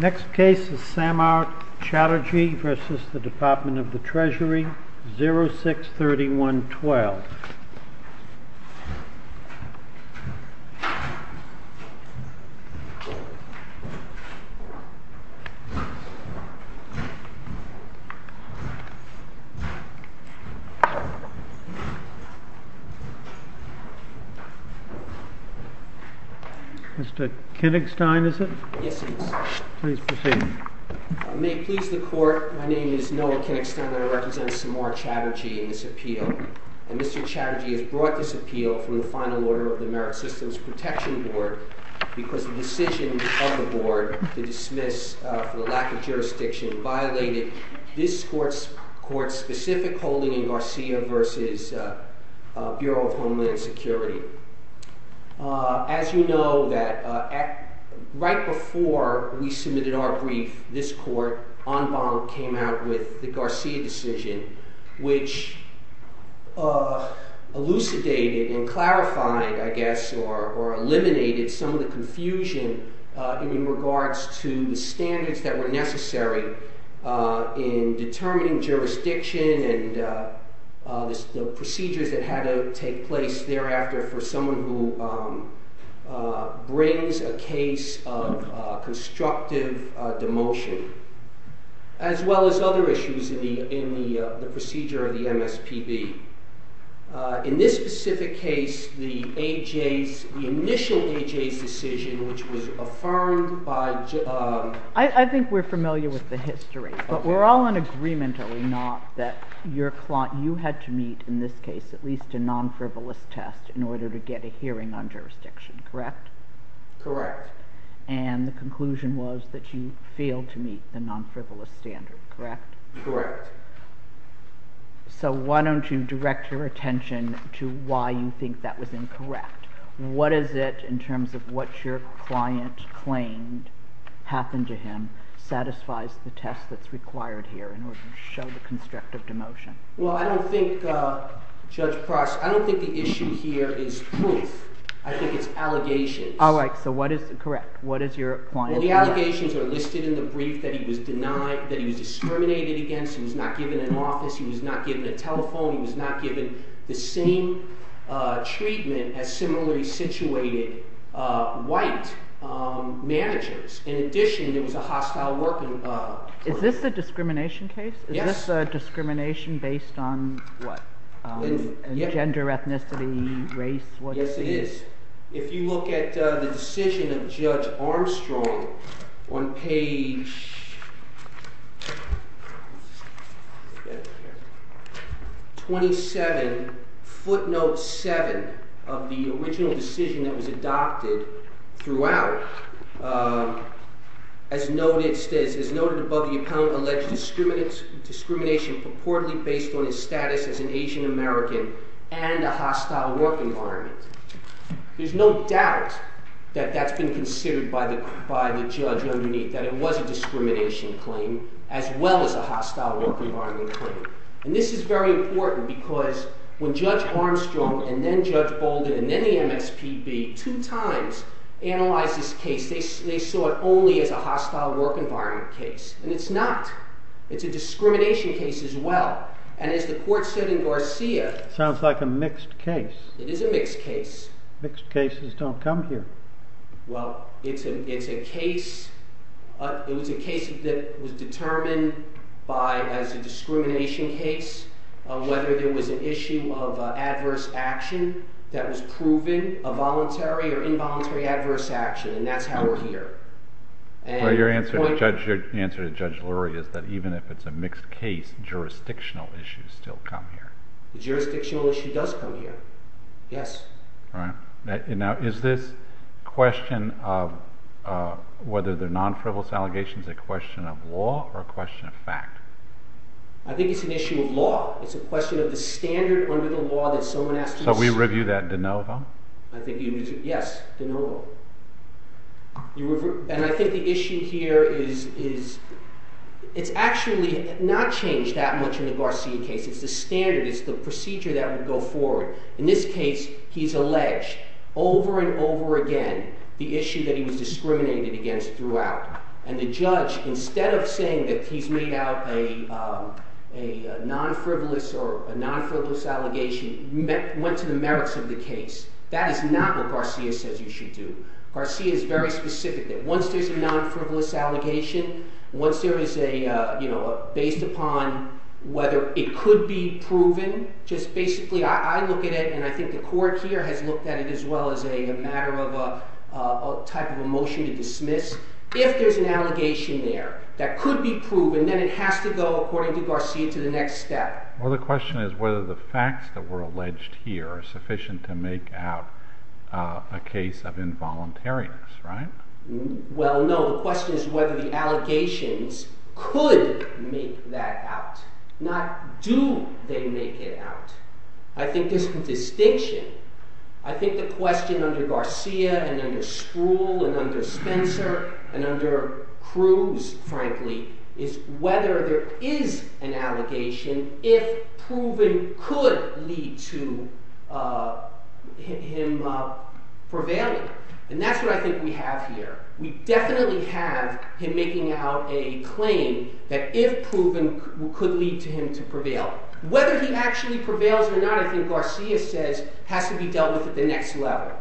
Next case is Samart Chatterjee versus the Department of the Treasury, 0631-12. Mr. Kinnickstein, is it? Yes, it is. Please proceed. May it please the Court, my name is Noah Kinnickstein and I represent Samart Chatterjee in this appeal. And Mr. Chatterjee has brought this appeal from the final order of the Merit Systems Protection Board because the decision of the Board to dismiss for the lack of jurisdiction violated this Court's specific holding in Garcia versus Bureau of Homeland Security. As you know, right before we submitted our brief, this Court, en banc, came out with the Garcia decision which elucidated and clarified, I guess, or eliminated some of the confusion in regards to the standards that were necessary in determining jurisdiction and the procedures that had to take place thereafter for someone who brings a case of constructive demotion, as well as other issues in the procedure of the MSPB. In this specific case, the initial AJ's decision, which was affirmed by... I think we're familiar with the history, but we're all in agreement, are we not, that you had to meet, in this case, at least a non-frivolous test in order to get a hearing on jurisdiction, correct? Correct. And the conclusion was that you failed to meet the non-frivolous standard, correct? Correct. So why don't you direct your attention to why you think that was incorrect. What is it, in terms of what your client claimed happened to him, satisfies the test that's required here in order to show the constructive demotion? Well, I don't think, Judge Cross, I don't think the issue here is proof. I think it's allegations. All right, so what is, correct, what is your client... The allegations are listed in the brief that he was denied, that he was discriminated against, he was not given an office, he was not given a telephone, he was not given the same treatment as similarly situated white managers. In addition, there was a hostile working... Is this a discrimination case? Yes. Is this a discrimination based on, what, gender, ethnicity, race? Yes, it is. If you look at the decision of Judge Armstrong on page 27, footnote 7, of the original decision that was adopted throughout, as noted above the appellant alleged discrimination purportedly based on his status as an Asian American and a hostile work environment. There's no doubt that that's been considered by the judge underneath, that it was a discrimination claim as well as a hostile work environment claim. And this is very important because when Judge Armstrong and then Judge Bolden and then the MSPB two times analyzed this case, they saw it only as a hostile work environment case. And it's not. It's a discrimination case as well. And as the court said in Garcia... Sounds like a mixed case. It is a mixed case. Mixed cases don't come here. Well, it's a case that was determined by, as a discrimination case, whether there was an issue of adverse action that was proven, a voluntary or involuntary adverse action, and that's how we're here. Your answer to Judge Lurie is that even if it's a mixed case, jurisdictional issues still come here. The jurisdictional issue does come here, yes. Now is this question of whether they're non-frivolous allegations a question of law or a question of fact? I think it's an issue of law. It's a question of the standard under the law that someone has to... Yes, de novo. And I think the issue here is it's actually not changed that much in the Garcia case. It's the standard, it's the procedure that would go forward. In this case, he's alleged over and over again the issue that he was discriminated against throughout. And the judge, instead of saying that he's made out a non-frivolous or a non-frivolous allegation, went to the merits of the case. That is not what Garcia says you should do. Garcia is very specific that once there's a non-frivolous allegation, once there is a, you know, based upon whether it could be proven, just basically I look at it and I think the court here has looked at it as well as a matter of a type of a motion to dismiss. If there's an allegation there that could be proven, then it has to go, according to Garcia, to the next step. Well, the question is whether the facts that were alleged here are sufficient to make out a case of involuntariness, right? Well, no. The question is whether the allegations could make that out. Not do they make it out. I think there's some distinction. I think the question under Garcia and under Spruill and under Spencer and under Cruz, frankly, is whether there is an allegation if proven could lead to him prevailing. And that's what I think we have here. We definitely have him making out a claim that if proven could lead to him to prevail. Whether he actually prevails or not, I think Garcia says, has to be dealt with at the next level.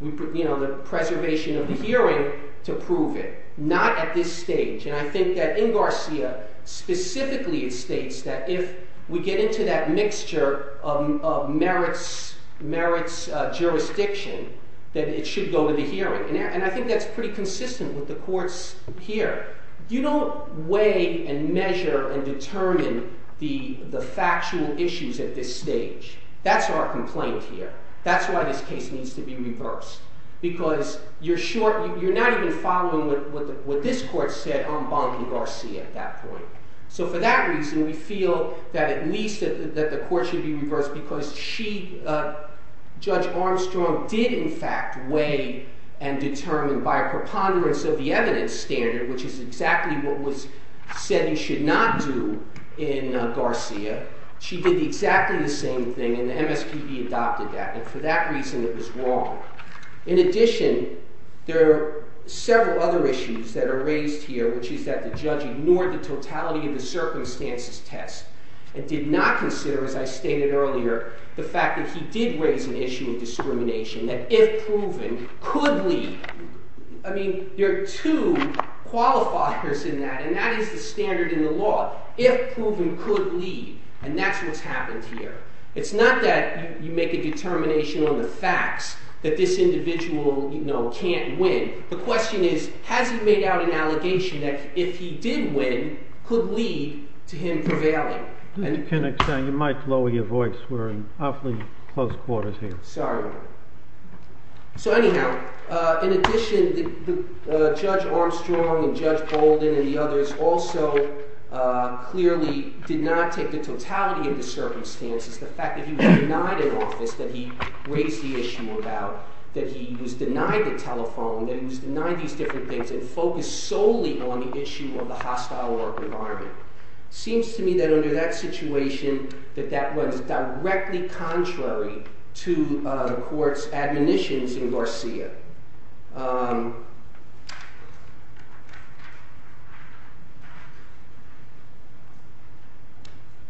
You know, the preservation of the hearing to prove it. Not at this stage. And I think that in Garcia, specifically it states that if we get into that mixture of merits, merits jurisdiction, that it should go to the hearing. And I think that's pretty consistent with the courts here. You don't weigh and measure and determine the factual issues at this stage. That's our complaint here. That's why this case needs to be reversed. Because you're not even following what this court said on Bonk and Garcia at that point. So for that reason, we feel that at least the court should be reversed because she, Judge Armstrong, did in fact weigh and determine by a preponderance of the evidence standard, which is exactly what was said and should not do in Garcia. She did exactly the same thing and the MSPB adopted that. And for that reason, it was wrong. In addition, there are several other issues that are raised here, which is that the judge ignored the totality of the circumstances test and did not consider, as I stated earlier, the fact that he did raise an issue of discrimination, that if proven, could lead. I mean, there are two qualifiers in that, and that is the standard in the law. If proven, could lead. And that's what's happened here. It's not that you make a determination on the facts that this individual, you know, can't win. The question is, has he made out an allegation that if he did win, could lead to him prevailing? Mr. Kennex, you might lower your voice. We're in awfully close quarters here. Sorry. So anyhow, in addition, Judge Armstrong and Judge Bolden and the others also clearly did not take the totality of the circumstances, the fact that he was denied an office that he raised the issue about, that he was denied the telephone, that he was denied these different things and focused solely on the issue of the hostile work environment. It seems to me that under that situation, that that was directly contrary to the court's admonitions in Garcia.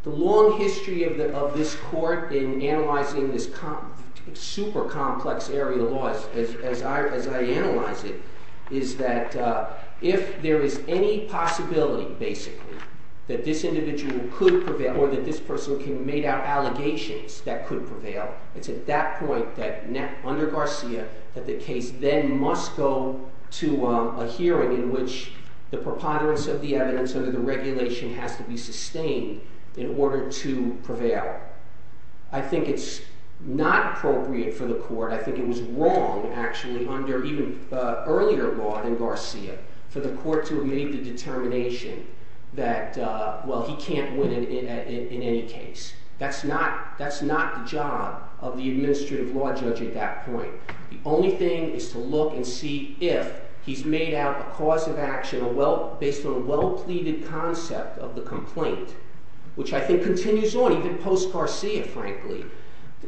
The long history of this court in analyzing this super complex area of laws, as I analyze it, is that if there is any possibility, basically, that this individual could prevail or that this person made out allegations that could prevail, it's at that point, under Garcia, that the case then must go to a hearing at a point in which the preponderance of the evidence under the regulation has to be sustained in order to prevail. I think it's not appropriate for the court, I think it was wrong, actually, under even earlier law than Garcia, for the court to have made the determination that, well, he can't win in any case. That's not the job of the administrative law judge at that point. The only thing is to look and see if he's made out a cause of action based on a well-pleaded concept of the complaint, which I think continues on, even post-Garcia, frankly.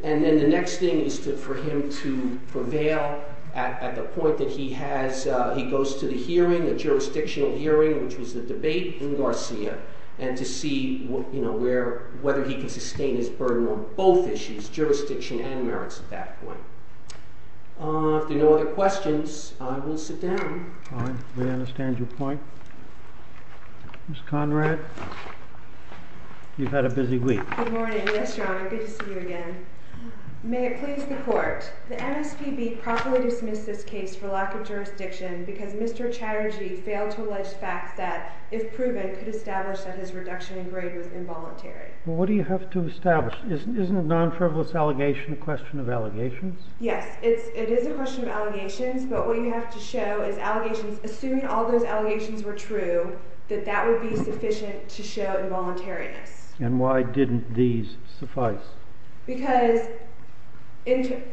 And then the next thing is for him to prevail at the point that he goes to the hearing, the jurisdictional hearing, which was the debate in Garcia, and to see whether he can sustain his burden on both issues, jurisdiction and merits, at that point. If there are no other questions, I will sit down. All right. We understand your point. Ms. Conrad, you've had a busy week. Good morning. Yes, Your Honor. Good to see you again. May it please the court, the MSPB properly dismissed this case for lack of jurisdiction because Mr. Chatterjee failed to allege facts that, if proven, could establish that his reduction in grade was involuntary. Well, what do you have to establish? Isn't a non-frivolous allegation a question of allegations? Yes, it is a question of allegations. But what you have to show is, assuming all those allegations were true, that that would be sufficient to show involuntariness. And why didn't these suffice? Because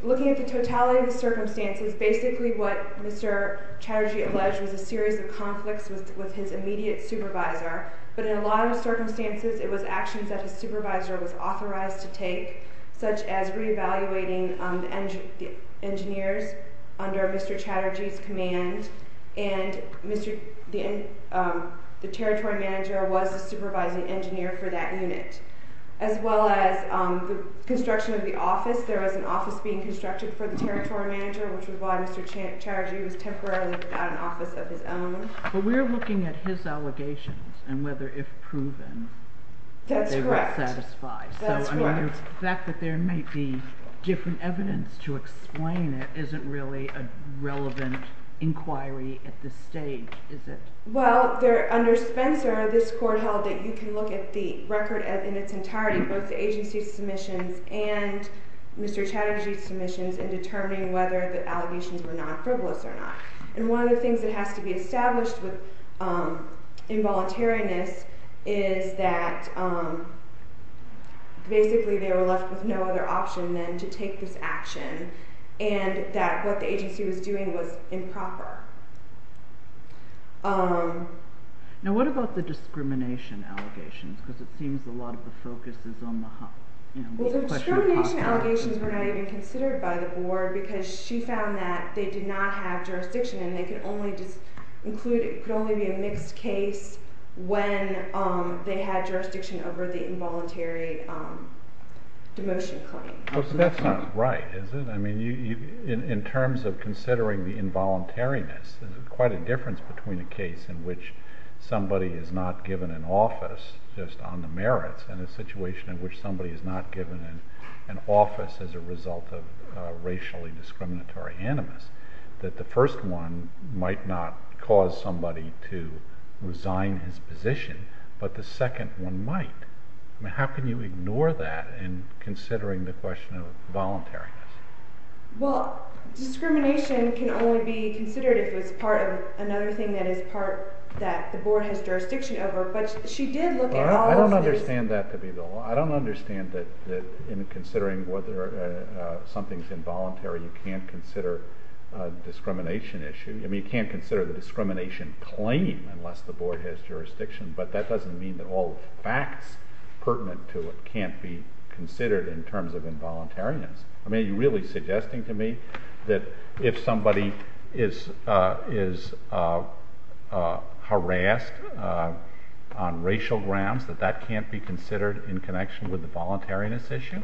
looking at the totality of the circumstances, basically what Mr. Chatterjee alleged was a series of conflicts with his immediate supervisor. But in a lot of circumstances, it was actions that his supervisor was authorized to take, such as reevaluating the engineers under Mr. Chatterjee's command, and the territory manager was the supervising engineer for that unit, as well as the construction of the office. There was an office being constructed for the territory manager, which was why Mr. Chatterjee was temporarily without an office of his own. But we're looking at his allegations and whether, if proven, they would satisfy. That's correct. So the fact that there may be different evidence to explain it isn't really a relevant inquiry at this stage, is it? Well, under Spencer, this court held that you can look at the record in its entirety, both the agency's submissions and Mr. Chatterjee's submissions, in determining whether the allegations were non-frivolous or not. And one of the things that has to be established with involuntariness is that basically they were left with no other option than to take this action, and that what the agency was doing was improper. Now what about the discrimination allegations? Because it seems a lot of the focus is on the question of hospitality. Well, the discrimination allegations were not even considered by the board because she found that they did not have jurisdiction and it could only be a mixed case when they had jurisdiction over the involuntary demotion claim. That's not right, is it? I mean, in terms of considering the involuntariness, there's quite a difference between a case in which somebody is not given an office, just on the merits, and a situation in which somebody is not given an office as a result of racially discriminatory animus. That the first one might not cause somebody to resign his position, but the second one might. I mean, how can you ignore that in considering the question of voluntariness? Well, discrimination can only be considered if it's part of another thing that is part that the board has jurisdiction over, but she did look at all of this. I don't understand that to be the law. I don't understand that in considering whether something's involuntary, you can't consider a discrimination issue. I mean, you can't consider the discrimination claim unless the board has jurisdiction, but that doesn't mean that all facts pertinent to it can't be considered in terms of involuntariness. I mean, are you really suggesting to me that if somebody is harassed on racial grounds that that can't be considered in connection with the voluntariness issue?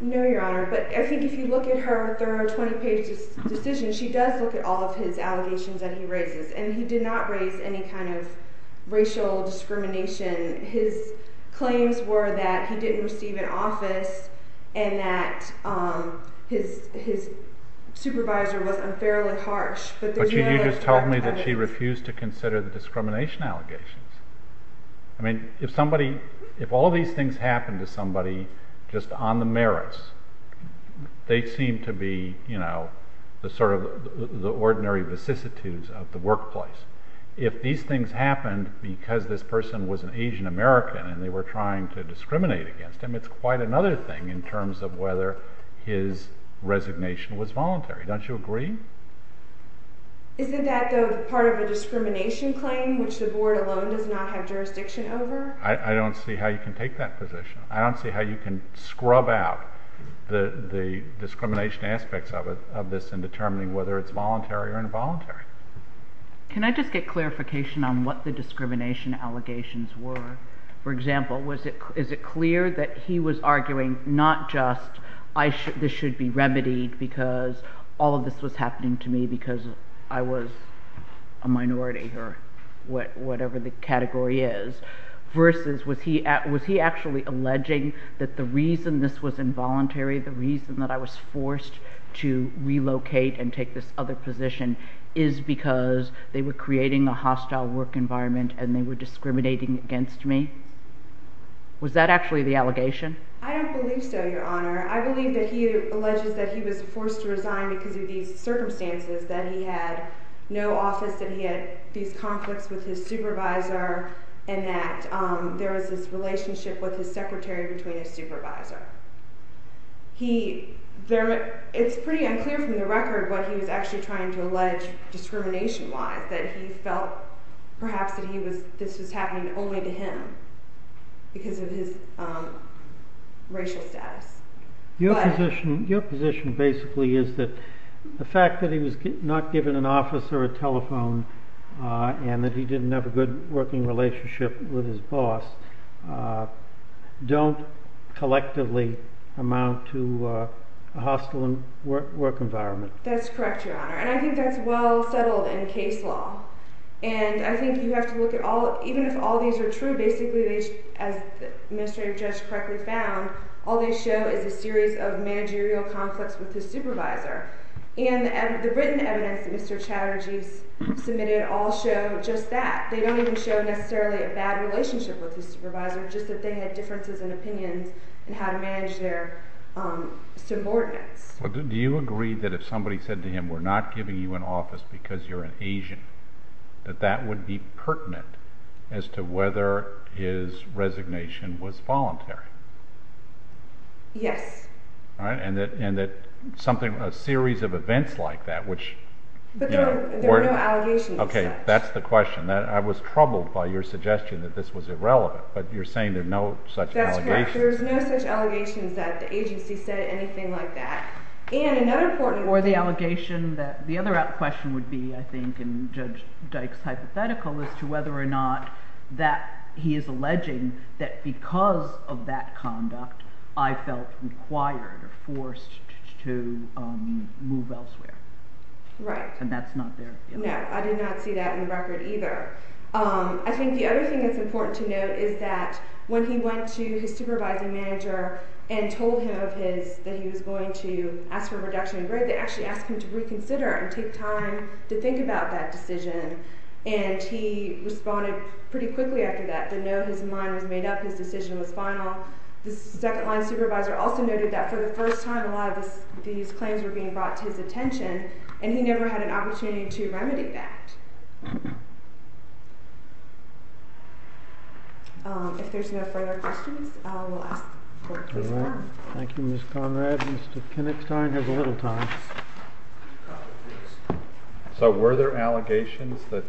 No, Your Honor, but I think if you look at her thorough 20-page decision, she does look at all of his allegations that he raises, and he did not raise any kind of racial discrimination. His claims were that he didn't receive an office and that his supervisor was unfairly harsh. But you just told me that she refused to consider the discrimination allegations. I mean, if all these things happen to somebody just on the merits, they seem to be the sort of ordinary vicissitudes of the workplace. If these things happened because this person was an Asian American and they were trying to discriminate against him, it's quite another thing in terms of whether his resignation was voluntary. Don't you agree? Isn't that, though, part of a discrimination claim which the board alone does not have jurisdiction over? I don't see how you can take that position. I don't see how you can scrub out the discrimination aspects of this in determining whether it's voluntary or involuntary. Can I just get clarification on what the discrimination allegations were? For example, is it clear that he was arguing not just this should be remedied because all of this was happening to me because I was a minority or whatever the category is, versus was he actually alleging that the reason this was involuntary, the reason that I was forced to relocate and take this other position, is because they were creating a hostile work environment and they were discriminating against me? Was that actually the allegation? I don't believe so, Your Honor. I believe that he alleges that he was forced to resign because of these circumstances, that he had no office, that he had these conflicts with his supervisor, and that there was this relationship with his secretary between his supervisor. It's pretty unclear from the record what he was actually trying to allege discrimination-wise, that he felt perhaps that this was happening only to him because of his racial status. Your position basically is that the fact that he was not given an office or a telephone and that he didn't have a good working relationship with his boss don't collectively amount to a hostile work environment. That's correct, Your Honor. And I think that's well settled in case law. And I think you have to look at all, even if all these are true, basically as the administrative judge correctly found, all they show is a series of managerial conflicts with his supervisor. And the written evidence that Mr. Chatterjee submitted all show just that. They don't even show necessarily a bad relationship with his supervisor, just that they had differences in opinions in how to manage their subordinates. Do you agree that if somebody said to him, we're not giving you an office because you're an Asian, that that would be pertinent as to whether his resignation was voluntary? Yes. And that a series of events like that, which— But there were no allegations of such. Okay, that's the question. I was troubled by your suggestion that this was irrelevant, but you're saying there are no such allegations. That's correct. There are no such allegations that the agency said anything like that. And another important— Or the allegation that—the other question would be, I think, in Judge Dyke's hypothetical as to whether or not that he is alleging that because of that conduct, I felt required or forced to move elsewhere. Right. And that's not there. No, I did not see that in the record either. I think the other thing that's important to note is that when he went to his supervising manager and told him of his— that he was going to ask for a reduction in grade, they actually asked him to reconsider and take time to think about that decision. And he responded pretty quickly after that to know his mind was made up, his decision was final. The second-line supervisor also noted that for the first time, a lot of these claims were being brought to his attention, and he never had an opportunity to remedy that. If there's no further questions, we'll ask the court to disconnect. All right. Thank you, Ms. Conrad. Mr. Kinnickstein has a little time. So were there allegations that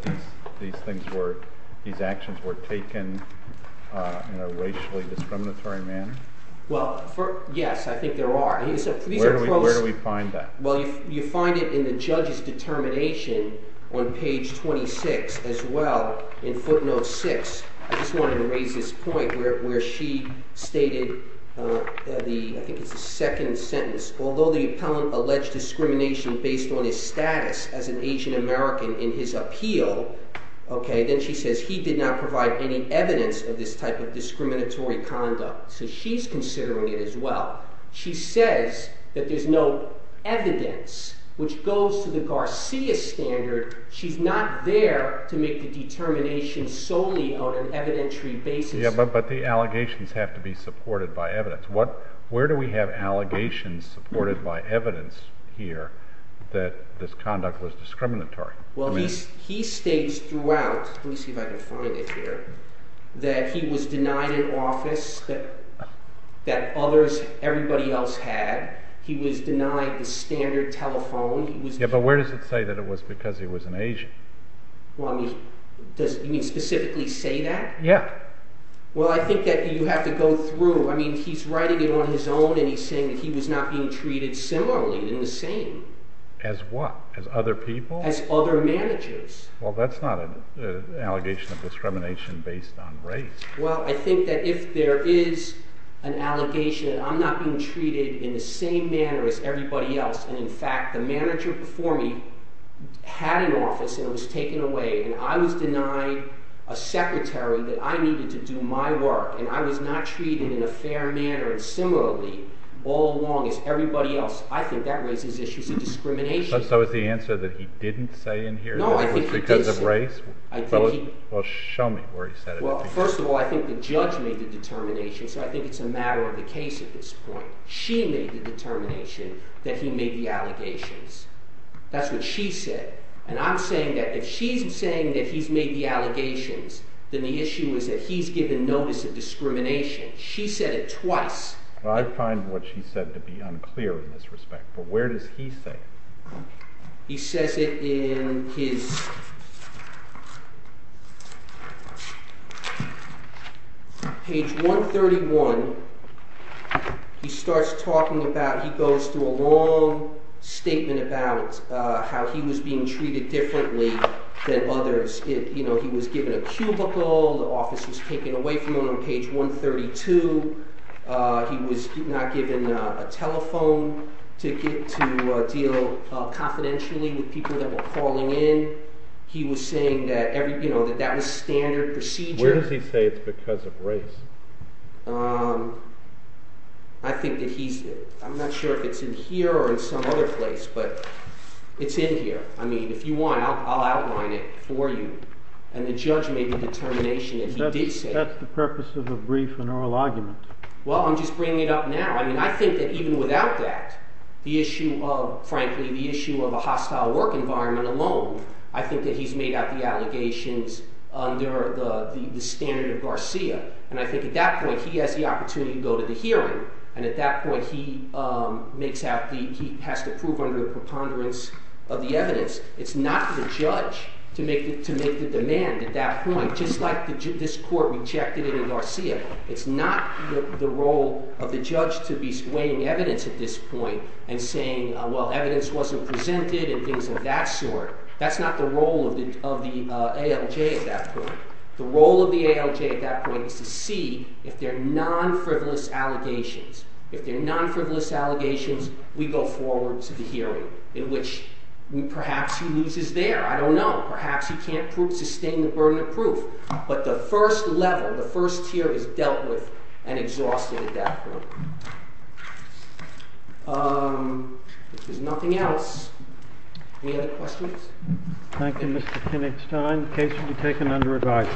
these things were— these actions were taken in a racially discriminatory manner? Well, yes, I think there are. Where do we find that? Well, you find it in the judge's determination on page 26 as well in footnote 6. I just wanted to raise this point where she stated the— I think it's the second sentence. Although the appellant alleged discrimination based on his status as an Asian American in his appeal, then she says he did not provide any evidence of this type of discriminatory conduct. So she's considering it as well. She says that there's no evidence, which goes to the Garcia standard. She's not there to make the determination solely on an evidentiary basis. Yeah, but the allegations have to be supported by evidence. Where do we have allegations supported by evidence here that this conduct was discriminatory? Well, he states throughout—let me see if I can find it here— that he was denied an office that others, everybody else had. He was denied the standard telephone. Yeah, but where does it say that it was because he was an Asian? You mean specifically say that? Yeah. Well, I think that you have to go through. I mean, he's writing it on his own, and he's saying that he was not being treated similarly in the same. As what? As other people? As other managers. Well, that's not an allegation of discrimination based on race. Well, I think that if there is an allegation, I'm not being treated in the same manner as everybody else. And, in fact, the manager before me had an office, and it was taken away. And I was denied a secretary that I needed to do my work. And I was not treated in a fair manner and similarly all along as everybody else. I think that raises issues of discrimination. So is the answer that he didn't say in here that it was because of race? Well, show me where he said it. Well, first of all, I think the judge made the determination, so I think it's a matter of the case at this point. She made the determination that he made the allegations. That's what she said. And I'm saying that if she's saying that he's made the allegations, then the issue is that he's given notice of discrimination. She said it twice. Well, I find what she said to be unclear in this respect. But where does he say it? He says it in his page 131. He starts talking about, he goes through a long statement about how he was being treated differently than others. You know, he was given a cubicle. The office was taken away from him on page 132. He was not given a telephone ticket to deal confidentially with people that were calling in. He was saying that that was standard procedure. Where does he say it's because of race? I think that he's, I'm not sure if it's in here or in some other place, but it's in here. I mean, if you want, I'll outline it for you. That's the purpose of a brief and oral argument. Well, I'm just bringing it up now. I mean, I think that even without that, the issue of, frankly, the issue of a hostile work environment alone, I think that he's made out the allegations under the standard of Garcia. And I think at that point, he has the opportunity to go to the hearing. And at that point, he makes out the, he has to prove under the preponderance of the evidence. It's not the judge to make the demand at that point, just like this court rejected it in Garcia. It's not the role of the judge to be weighing evidence at this point and saying, well, evidence wasn't presented and things of that sort. That's not the role of the ALJ at that point. The role of the ALJ at that point is to see if they're non-frivolous allegations. If they're non-frivolous allegations, we go forward to the hearing, in which perhaps he loses there. I don't know. Perhaps he can't sustain the burden of proof. But the first level, the first tier is dealt with and exhausted at that point. If there's nothing else, any other questions? Thank you, Mr. Kinnickstein. The case will be taken under review.